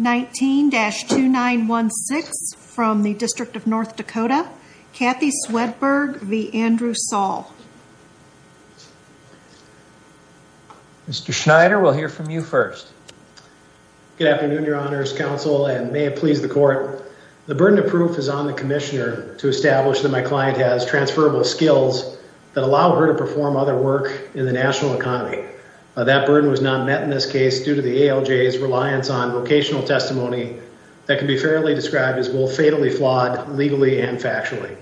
19-2916 from the District of North Dakota Kathy Swedberg v. Andrew Saul. Mr. Schneider, we'll hear from you first. Good afternoon, Your Honors Counsel and may it please the Court. The burden of proof is on the Commissioner to establish that my client has transferable skills that allow her to perform other work in the national economy. That burden was not met in this case due to the ALJ's reliance on vocational testimony that can be fairly described as both fatally flawed legally and factually.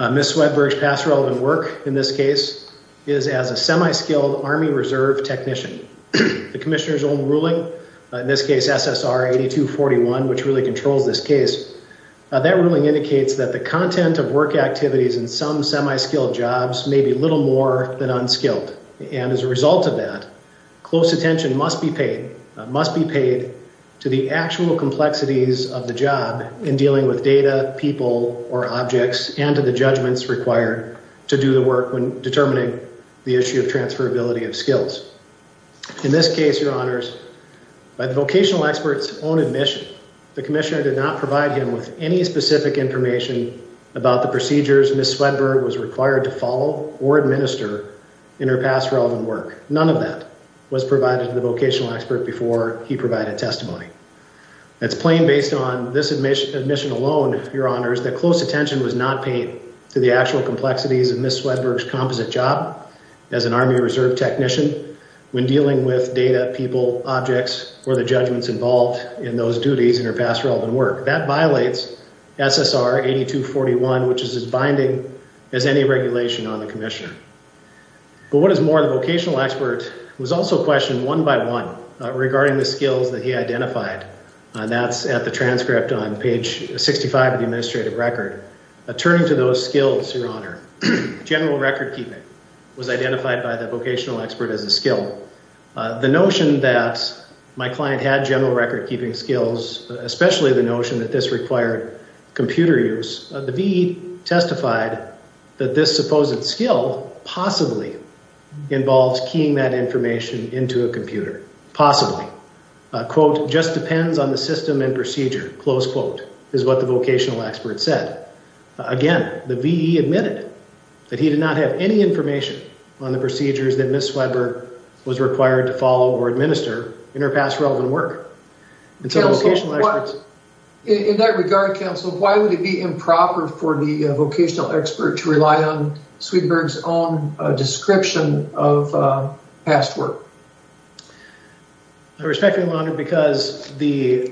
Ms. Swedberg's past relevant work in this case is as a semi-skilled Army Reserve technician. The Commissioner's own ruling, in this case SSR 8241, which really controls this case, that ruling indicates that the content of work activities in some semi-skilled jobs may be little more than unskilled and as a result of that close attention must be paid, must be paid to the actual complexities of the job in dealing with data, people, or objects and to the judgments required to do the work when determining the issue of transferability of skills. In this case, Your Honors, by the vocational experts own admission, the Commissioner did not provide him with any specific information about the procedures Ms. Swedberg was required to follow or administer in her past relevant work. None of that was provided to the vocational expert before he provided testimony. It's plain based on this admission alone, Your Honors, that close attention was not paid to the actual complexities of Ms. Swedberg's composite job as an Army Reserve technician when dealing with data, people, objects, or the judgments involved in those duties in her past relevant work. That violates SSR 8241, which is as binding as any regulation on the Commissioner. But what was more, the vocational expert was also questioned one by one regarding the skills that he identified and that's at the transcript on page 65 of the administrative record. Turning to those skills, Your Honor, general record-keeping was identified by the vocational expert as a skill. The notion that my client had general record-keeping skills, especially the notion that this required computer use, the VE testified that this supposed skill possibly involves keying that information into a computer. Possibly. Quote, just depends on the system and procedure, close quote, is what the vocational expert said. Again, the VE admitted that he did not have any information on the procedures that Ms. Swedberg was required to follow or administer in her past relevant work. In that regard, counsel, why would it be improper for the vocational expert to rely on Swedberg's own description of past work? I respect you, Your Honor, because the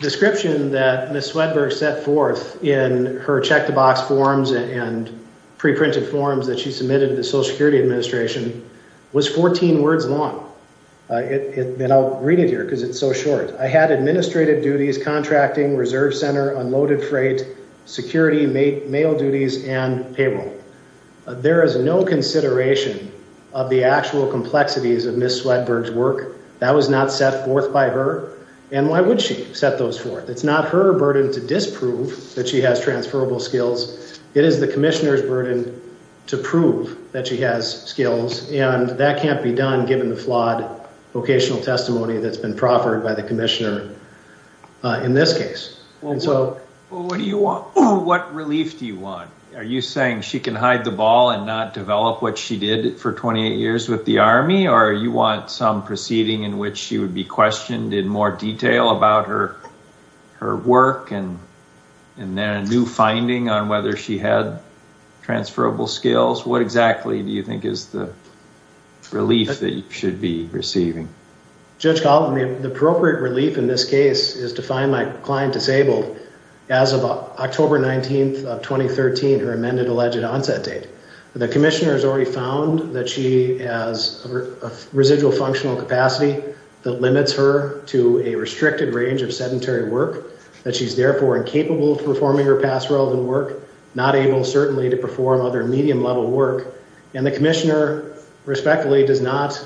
description that Ms. Swedberg set forth in her check-the-box forms and pre-printed forms that she submitted to the Social Security Administration was 14 words long. I'll read it here because it's so short. I had administrative duties, contracting, reserve center, unloaded freight, security, mail duties, and payroll. There is no consideration of the actual complexities of Ms. Swedberg's work. That was not set forth by her, and why would she set those forth? It's not her burden to disprove that she has transferable skills. It is the Commissioner's burden to prove that she has skills, and that can't be done given the flawed vocational testimony that's given by the Commissioner in this case. What relief do you want? Are you saying she can hide the ball and not develop what she did for 28 years with the Army, or you want some proceeding in which she would be questioned in more detail about her work and then a new finding on whether she had transferable skills? What exactly do you think is the relief that you should be seeking? The ultimate relief in this case is to find my client disabled as of October 19th of 2013, her amended alleged onset date. The Commissioner has already found that she has a residual functional capacity that limits her to a restricted range of sedentary work, that she's therefore incapable of performing her past relevant work, not able certainly to perform other medium level work, and the Commissioner respectfully is not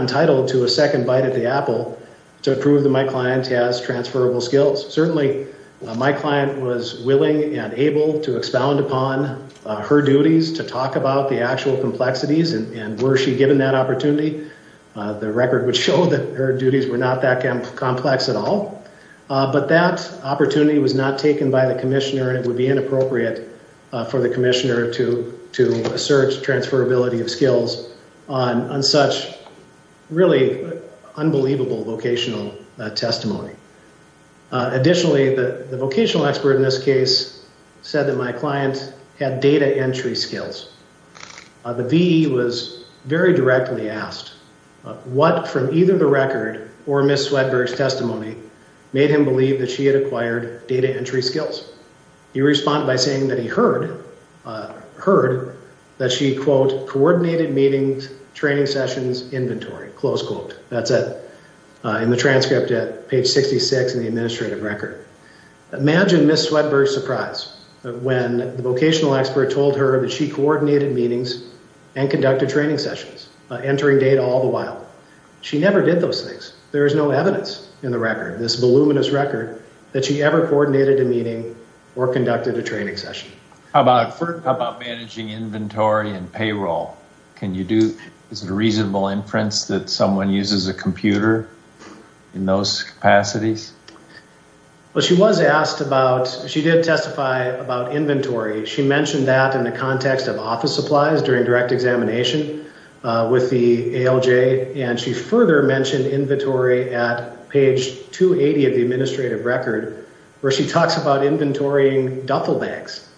entitled to a second bite at the apple to prove that my client has transferable skills. Certainly my client was willing and able to expound upon her duties to talk about the actual complexities, and were she given that opportunity, the record would show that her duties were not that complex at all, but that opportunity was not taken by the Commissioner and it would be inappropriate for the Commissioner to assert transferability of skills on such really unbelievable vocational testimony. Additionally, the vocational expert in this case said that my client had data entry skills. The VE was very directly asked what from either the record or Ms. Swedberg's testimony made him believe that she had acquired data that she, quote, coordinated meetings, training sessions, inventory, close quote. That's it. In the transcript at page 66 in the administrative record. Imagine Ms. Swedberg's surprise when the vocational expert told her that she coordinated meetings and conducted training sessions, entering data all the while. She never did those things. There is no evidence in the record, this voluminous record, that she ever coordinated a meeting or conducted a training session. What about inventory and payroll? Is it a reasonable inference that someone uses a computer in those capacities? Well, she was asked about, she did testify about inventory. She mentioned that in the context of office supplies during direct examination with the ALJ, and she further mentioned inventory at page 280 of the administrative record, where she talks about inventorying duffel bags.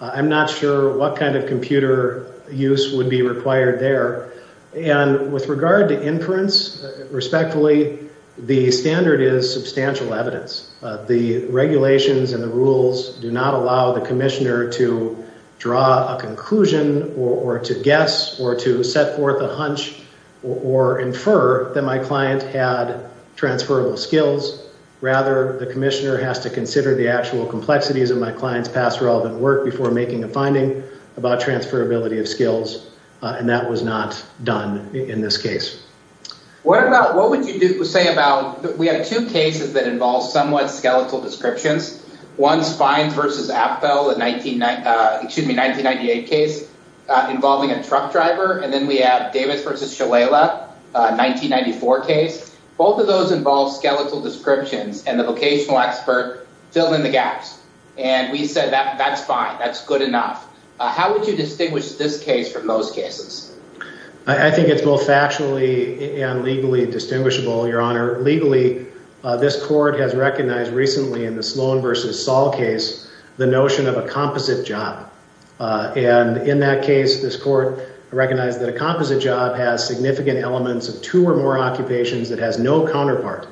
I'm not sure what kind of computer use would be required there. And with regard to inference, respectfully, the standard is substantial evidence. The regulations and the rules do not allow the commissioner to draw a conclusion or to guess or to set forth a hunch or infer that my client had transferable skills. Rather, the commissioner has to consider the actual complexities of my client's past relevant work before making a finding about transferability of skills, and that was not done in this case. What about, what would you say about, we have two cases that involve somewhat skeletal descriptions. One Spines versus Apfel, excuse me, a 1998 case involving a truck driver, and then we have Davis versus Shalala, a 1994 case. Both of those involve skeletal descriptions, and the that's fine, that's good enough. How would you distinguish this case from those cases? I think it's both factually and legally distinguishable, Your Honor. Legally, this court has recognized recently in the Sloan versus Saul case the notion of a composite job, and in that case, this court recognized that a composite job has significant elements of two or more occupations that has no counterpart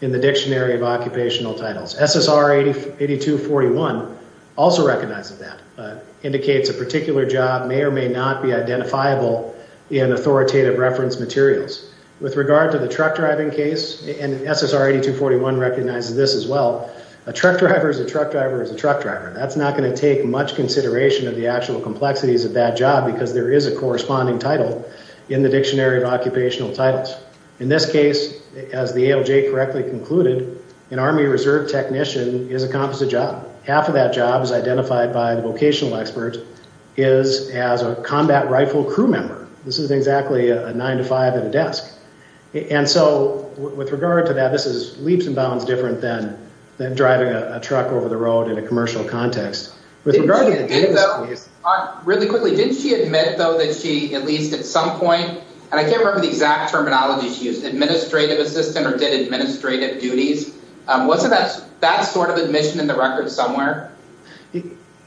in the Dictionary of Occupational Titles. SSR 8241 also recognizes that, indicates a particular job may or may not be identifiable in authoritative reference materials. With regard to the truck driving case, and SSR 8241 recognizes this as well, a truck driver is a truck driver is a truck driver. That's not going to take much consideration of the actual complexities of that job because there is a corresponding title in the Dictionary of Occupational Titles. In this case, as the ALJ correctly concluded, an Army Reserve technician is a composite job. Half of that job is identified by the vocational expert is as a combat rifle crew member. This is exactly a nine-to-five at a desk, and so with regard to that, this is leaps and bounds different than driving a truck over the road in a commercial context. With regard to the Davis case... Really quickly, didn't she admit, though, that she, at least at some point, and I can't remember the exact terminology she used, administrative assistant or did administrative duties? Wasn't that sort of admission in the record somewhere?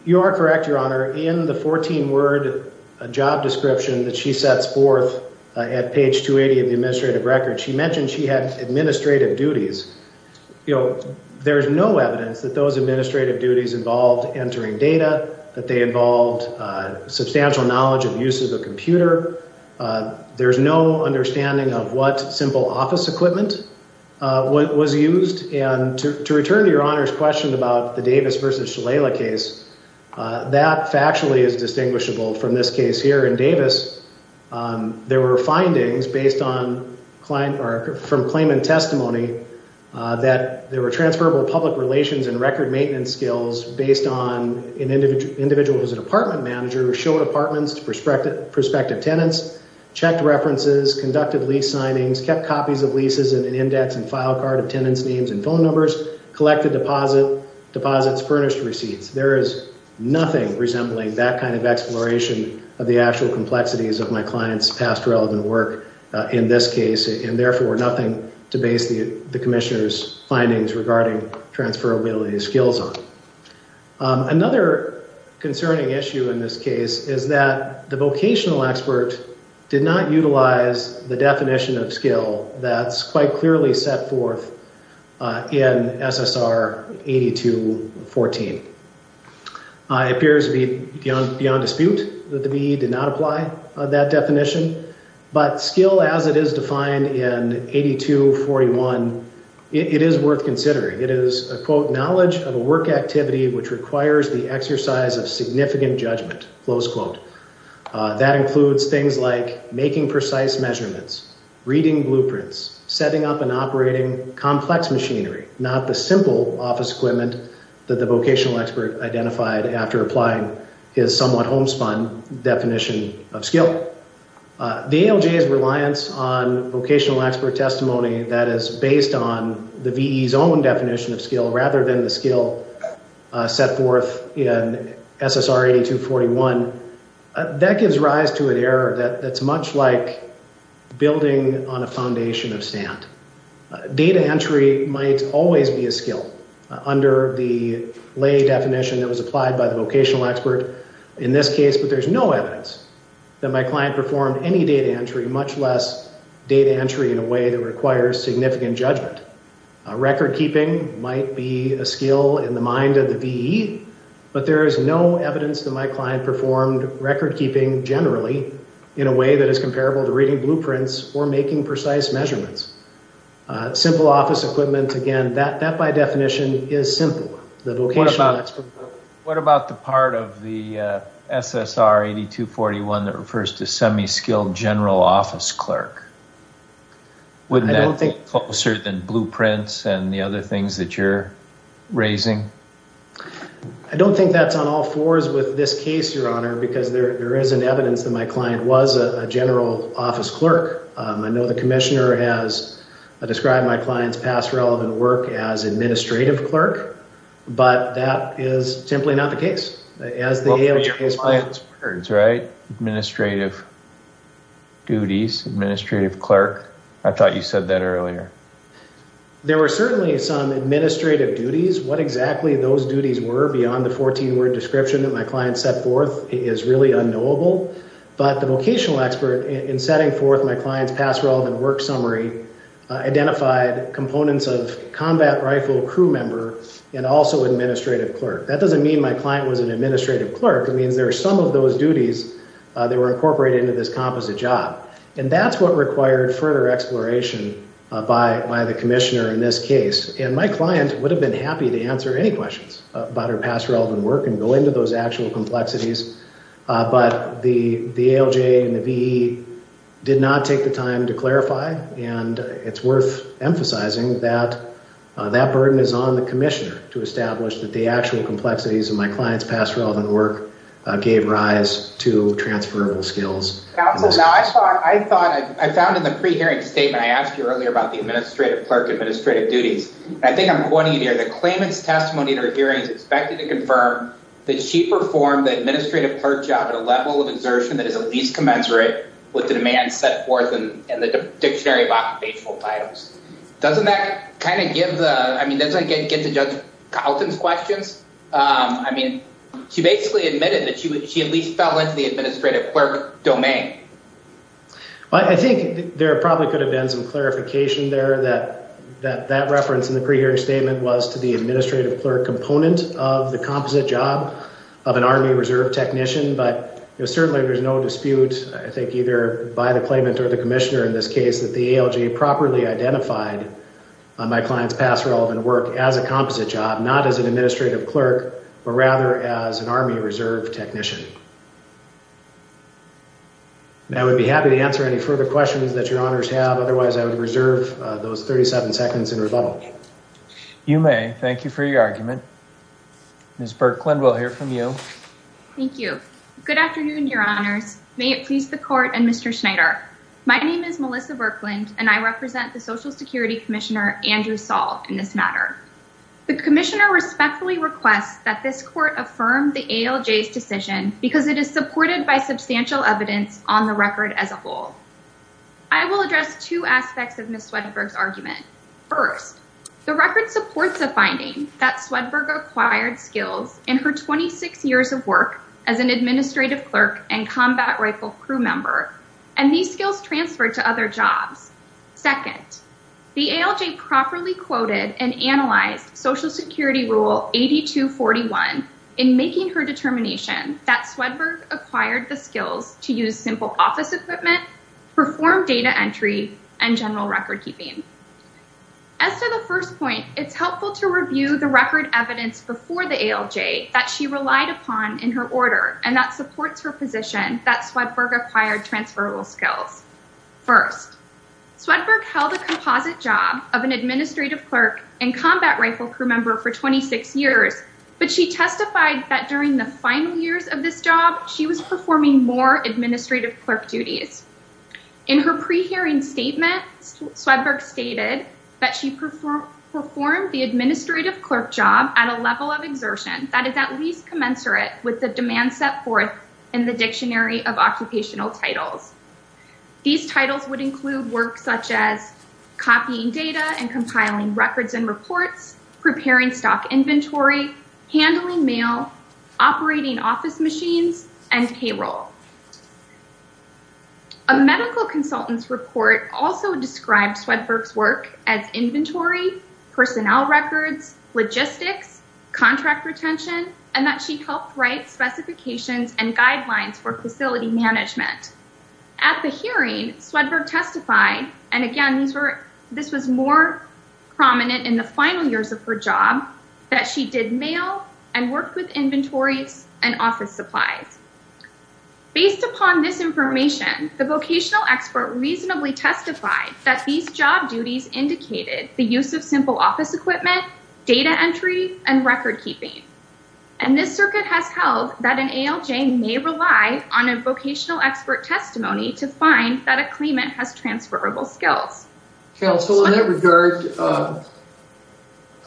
You are correct, Your Honor. In the 14-word job description that she sets forth at page 280 of the administrative record, she mentioned she had administrative duties. You know, there's no evidence that those administrative duties involved entering data, that they involved substantial knowledge of use of a computer. There's no understanding of what simple office equipment was used, and to return to Your Honor's question about the Davis versus Shalala case, that factually is distinguishable from this case here in Davis. There were findings based on from claimant testimony that there were transferable public relations and record maintenance skills based on an individual who was an apartment manager, showed apartments to prospective tenants, checked references, conducted lease signings, kept copies of leases in an index and file card of tenants' names and phone numbers, collected deposits, furnished receipts. There is nothing resembling that kind of exploration of the actual complexities of my client's past relevant work in this case, and therefore nothing to base the Commissioner's findings regarding transferability skills on. Another concerning issue in this case is that the vocational expert did not apply that definition, but skill as it is defined in 8241, it is worth considering. It is a quote, knowledge of a work activity which requires the exercise of significant judgment, close quote. That includes things like making precise measurements, reading blueprints, setting up and operating complex machinery, not the simple office equipment that the vocational expert identified after applying his somewhat homespun definition of skill. The ALJ's reliance on vocational expert testimony that is based on the VE's own definition of skill rather than the skill set forth in SSR 8241, that gives rise to an error that's much like building on a foundation of sand. Data entry might always be a skill under the lay definition that was applied by the vocational expert in this case, but there's no evidence that my client performed any data entry, much less data entry in a way that requires significant judgment. Record-keeping might be a skill in the mind of the VE, but there is no in a way that is comparable to reading blueprints or making precise measurements. Simple office equipment, again, that by definition is simple, the vocational expert. What about the part of the SSR 8241 that refers to semi-skilled general office clerk? Wouldn't that be closer than blueprints and the other things that you're raising? I don't think that's on all fours with this case, your client was a general office clerk. I know the commissioner has described my client's past relevant work as administrative clerk, but that is simply not the case. As the ALJ's words, right? Administrative duties, administrative clerk. I thought you said that earlier. There were certainly some administrative duties. What exactly those duties were beyond the 14-word description that my client set forth is really unknowable, but the vocational expert in setting forth my client's past relevant work summary identified components of combat rifle crew member and also administrative clerk. That doesn't mean my client was an administrative clerk, it means there are some of those duties that were incorporated into this composite job. And that's what required further exploration by the commissioner in this case. And my client would have been happy to answer any questions about her past relevant work and go into those actual complexities, but the ALJ and the VE did not take the time to clarify and it's worth emphasizing that that burden is on the commissioner to establish that the actual complexities of my client's past relevant work gave rise to transferable skills. I found in the pre-hearing statement, I asked you earlier about the administrative clerk administrative duties. I think I'm pointing it here, the claimant's testimony in her hearing is expected to confirm that she performed the administrative clerk job at a level of exertion that is at least commensurate with the demands set forth in the Dictionary of Occupational Titles. Doesn't that kind of give the, I mean, doesn't it get to Judge Carlton's questions? I mean, she basically admitted that she at least fell into the administrative clerk domain. I think there probably could have been some clarification there that that reference in the pre-hearing statement was to the administrative clerk component of the composite job of an Army Reserve technician, but certainly there's no dispute, I think either by the claimant or the commissioner in this case, that the ALJ properly identified my client's past relevant work as a composite job, not as an administrative clerk, but rather as an Army Reserve technician. I would be happy to answer any further questions that your honors have, otherwise I would reserve those 37 seconds in rebuttal. You may. Thank you for your argument. Ms. Birkland, we'll hear from you. Thank you. Good afternoon, your honors. May it please the court and Mr. Schneider. My name is Melissa Birkland and I represent the Social Security Commissioner Andrew Saul in this matter. The commissioner respectfully requests that this court affirm the ALJ's decision because it is supported by substantial evidence on the record as a whole. I will address two aspects of Ms. Birkland's decision. First, the record supports a finding that Swedberg acquired skills in her 26 years of work as an administrative clerk and combat rifle crew member, and these skills transferred to other jobs. Second, the ALJ properly quoted and analyzed Social Security Rule 8241 in making her determination that Swedberg acquired the skills to use simple office equipment, perform data entry, and general record-keeping. As to the first point, it's helpful to review the record evidence before the ALJ that she relied upon in her order and that supports her position that Swedberg acquired transferable skills. First, Swedberg held a composite job of an administrative clerk and combat rifle crew member for 26 years, but she testified that during the final years of this job, she was performing more administrative clerk duties. In her pre-hearing statement, Swedberg stated that she performed the administrative clerk job at a level of exertion that is at least commensurate with the demand set forth in the Dictionary of Occupational Titles. These titles would include work such as copying data and compiling records and reports, preparing stock inventory, handling mail, operating office machines, and payroll. A medical consultant's report also described Swedberg's work as inventory, personnel records, logistics, contract retention, and that she helped write specifications and guidelines for facility management. At the hearing, Swedberg testified, and again this was more prominent in the final years of her job, that she did mail and worked with inventories and office supplies. Based upon this information, the vocational expert reasonably testified that these job duties indicated the use of simple office equipment, data entry, and record-keeping, and this circuit has held that an ALJ may rely on a vocational expert testimony to find that a claimant has transferable skills. Council, in that regard,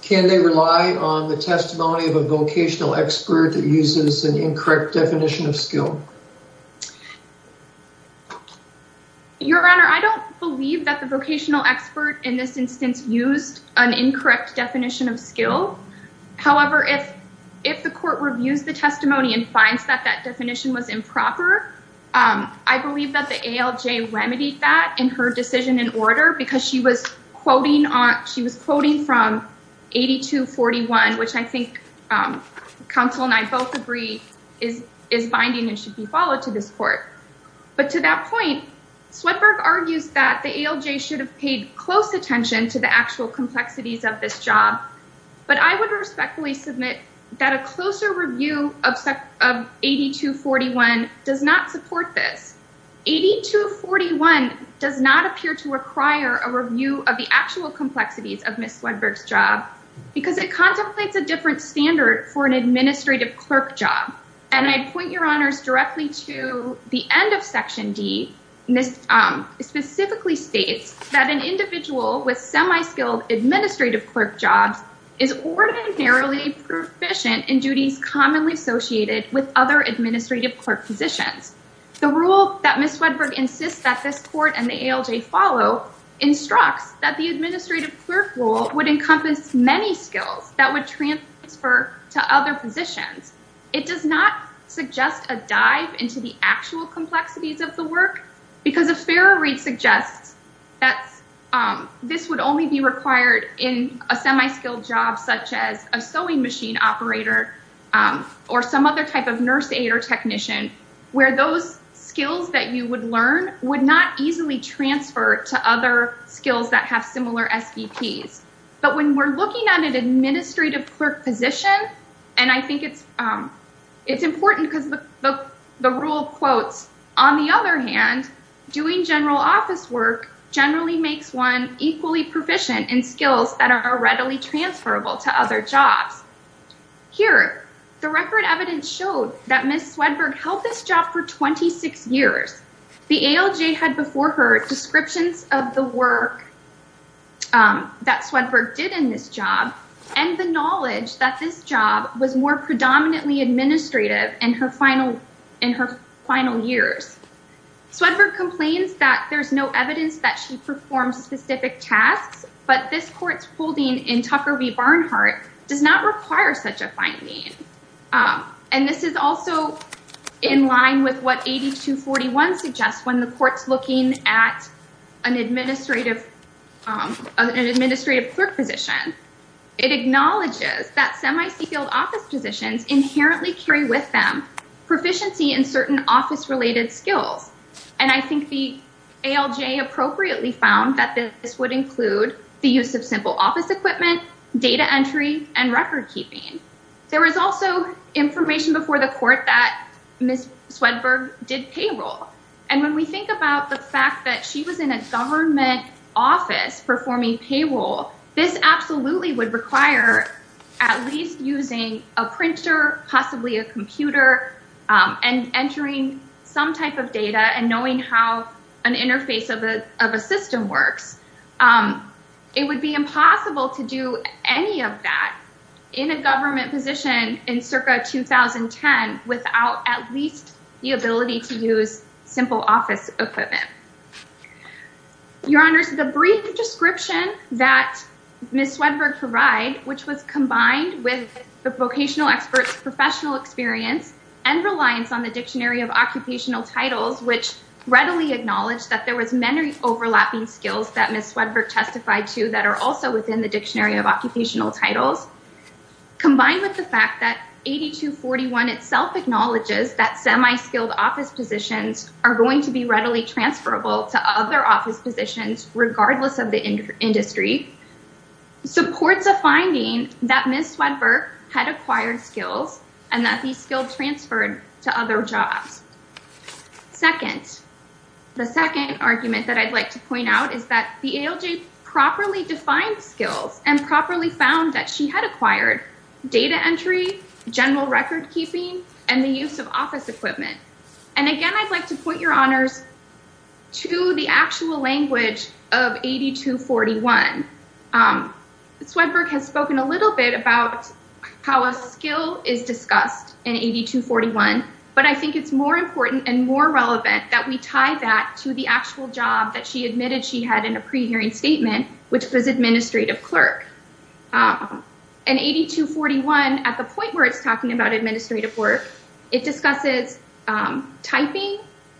can they rely on the testimony of a vocational expert that uses an incorrect definition of skill? Your Honor, I don't believe that the vocational expert in this instance used an incorrect definition of skill. However, if if the court reviews the testimony and finds that that definition was improper, I believe that the ALJ remedied that in her decision in order because she was quoting on she was quoting from 8241, which I think Council and I both agree is is binding and should be followed to this court. But to that point, Swedberg argues that the ALJ should have paid close attention to the actual complexities of this job, but I would respectfully submit that a closer review of 8241 does not support this. 8241 does not appear to require a review of the actual complexities of Ms. Wedberg's job because it contemplates a different standard for an administrative clerk job, and I'd point your honors directly to the end of Section D. This specifically states that an individual with semi-skilled administrative clerk jobs is ordinarily proficient in duties commonly associated with other administrative clerk positions. The rule that Ms. Wedberg insists that this court and the ALJ follow instructs that the administrative clerk role would encompass many skills that would transfer to other positions. It does not suggest a dive into the actual complexities of the work because a fair read suggests that this would only be required in a semi-skilled job such as a sewing machine operator or some other type of nurse aide or technician where those skills that you would learn would not easily transfer to other serve as an administrative clerk in any of these positions. But when we're looking at an administrative clerk position, and I think it's it's important because the rule quotes, on the other hand, doing general office work generally makes one equally proficient in skills that are readily transferable to other jobs. Here the record evidence showed that Ms. Wedberg held this job for 26 years. The ALJ had before her descriptions of the work that Swedberg did in this job and the knowledge that this job was more predominantly administrative in her final years. Swedberg complains that there's no evidence that she performs specific tasks, but this court's holding in Tucker v. Barnhart does not require such a finding. And this is also in line with what 8241 suggests when the court's looking at an administrative clerk position. It acknowledges that semi-skilled office positions inherently carry with them proficiency in certain office related skills. And I think the ALJ appropriately found that this would include the use of simple office equipment, data entry, and record-keeping. There was also information before the court that Ms. Swedberg did payroll. And when we think about the fact that she was in a government office performing payroll, this absolutely would require at least using a printer, possibly a computer, and entering some type of data and knowing how an interface of a system works. It would be impossible to do any of that in a government position in circa 2010 without at least the ability to use simple office equipment. Your Honors, the brief description that Ms. Swedberg provided, which was combined with the vocational experts' professional experience and reliance on the Dictionary of Occupational Titles, which readily acknowledged that there was many overlapping skills that Ms. Swedberg testified to that are also within the Dictionary of Occupational Titles, combined with the fact that 8241 itself acknowledges that semi-skilled office positions are going to be readily transferable to other office positions regardless of the industry, supports a finding that Ms. Swedberg had acquired skills and that these skills transferred to other jobs. Second, the second argument that I'd like to point out is that the ALJ properly defined skills and properly found that she had acquired data entry, general record-keeping, and the use of office equipment. And again, I'd like to point your Honors to the actual language of 8241. Swedberg has used 8241, but I think it's more important and more relevant that we tie that to the actual job that she admitted she had in a pre-hearing statement, which was administrative clerk. And 8241, at the point where it's talking about administrative work, it discusses typing,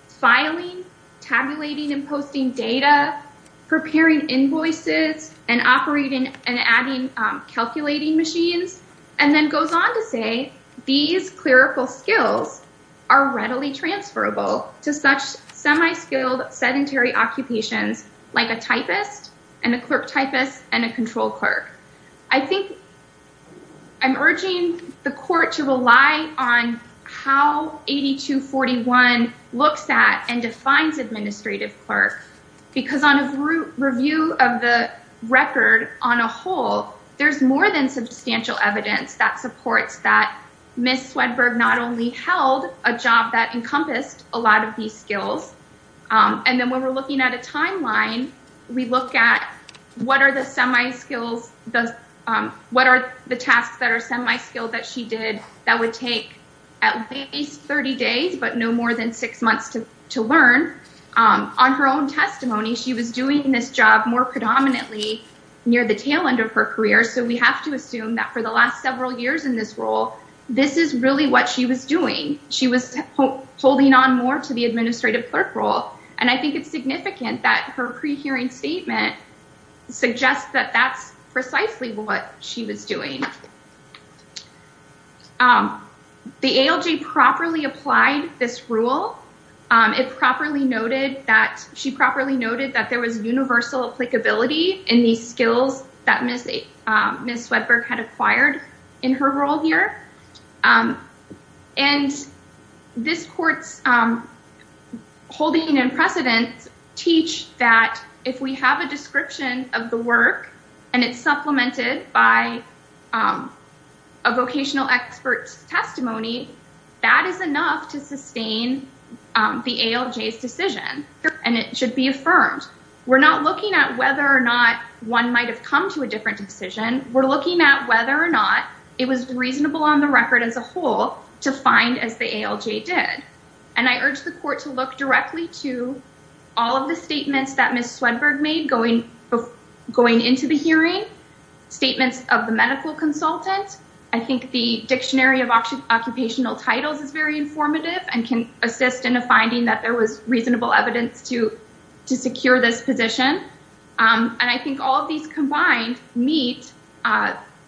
filing, tabulating and posting data, preparing invoices, and operating and adding calculating machines, and then clarifying that these clerical skills are readily transferable to such semi-skilled sedentary occupations like a typist and a clerk typist and a control clerk. I think I'm urging the court to rely on how 8241 looks at and defines administrative clerk because on a review of the record on a whole, there's more than substantial evidence that supports that Ms. Swedberg not only held a job that encompassed a lot of these skills, and then when we're looking at a timeline, we look at what are the tasks that are semi-skilled that she did that would take at least 30 days, but no more than six months to learn. On her own testimony, she was doing this job more than a year, so we have to assume that for the last several years in this role, this is really what she was doing. She was holding on more to the administrative clerk role, and I think it's significant that her pre-hearing statement suggests that that's precisely what she was doing. The ALJ properly applied this rule. It properly noted that there was universal applicability in these skills that Ms. Swedberg had acquired in her role here, and this court's holding and precedent teach that if we have a description of the work and it's supplemented by a vocational expert's testimony, that is enough to sustain the ALJ's decision, and it should be affirmed. We're not looking at whether or not one might have come to a different decision. We're looking at whether or not it was reasonable on the record as a whole to find as the ALJ did, and I urge the court to look directly to all of the statements that Ms. Swedberg made going into the hearing, statements of the medical consultant. I think the Dictionary of Occupational Titles is very informative and can assist in a reasonable evidence to secure this position, and I think all of these combined meet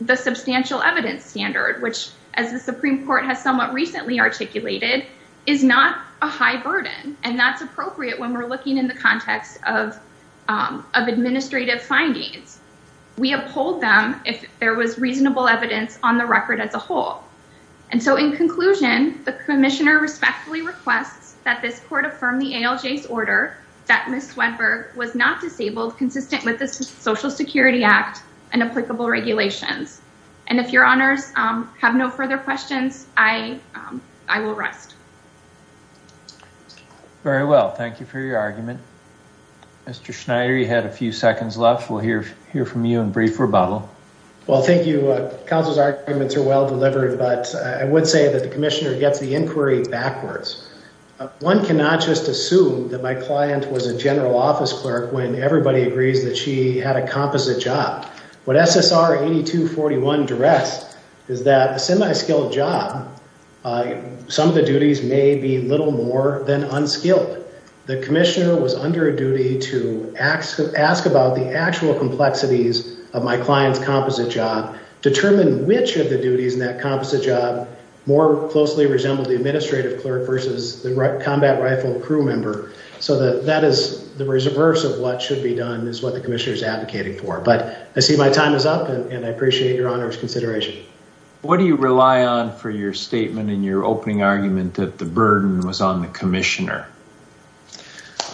the substantial evidence standard, which, as the Supreme Court has somewhat recently articulated, is not a high burden, and that's appropriate when we're looking in the context of administrative findings. We uphold them if there was reasonable evidence on the record as a whole, and so in conclusion, the Commissioner respectfully requests that this court affirm the ALJ's order that Ms. Swedberg was not disabled consistent with the Social Security Act and applicable regulations, and if your honors have no further questions, I will rest. Very well. Thank you for your argument. Mr. Schneider, you had a few seconds left. We'll hear from you in brief rebuttal. Well, thank you. Counsel's arguments are well delivered, but I would say that the Commissioner gets the inquiry backwards. One cannot just assume that my client was a general office clerk when everybody agrees that she had a composite job. What SSR 8241 directs is that a semi-skilled job, some of the duties may be little more than unskilled. The Commissioner was under a duty to ask about the actual complexities of my client's composite job, determine which of the resembled the administrative clerk versus the combat rifle crew member, so that that is the reverse of what should be done is what the Commissioner is advocating for, but I see my time is up and I appreciate your honors consideration. What do you rely on for your statement in your opening argument that the burden was on the Commissioner?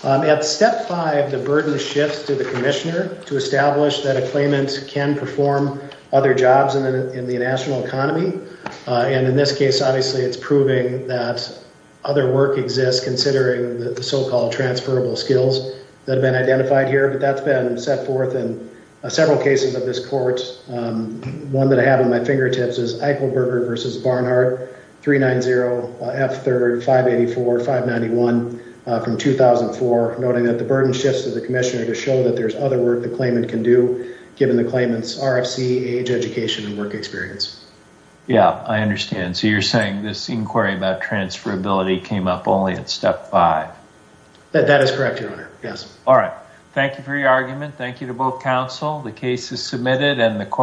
At step five, the burden shifts to the Commissioner to establish that a claimant can perform other jobs in the national economy, and in this case obviously it's proving that other work exists considering the so-called transferable skills that have been identified here, but that's been set forth in several cases of this court. One that I have on my fingertips is Eichelberger versus Barnhart, 390 F3, 584, 591 from 2004, noting that the burden shifts to the Commissioner to show that there's other work the claimant can do given the claimant's RFC, age, education, and work experience. Yeah, I understand. So you're saying this inquiry about transferability came up only at step five? That is correct, your honor. Yes. All right. Thank you for your argument. Thank you to both counsel. The case is submitted and the court...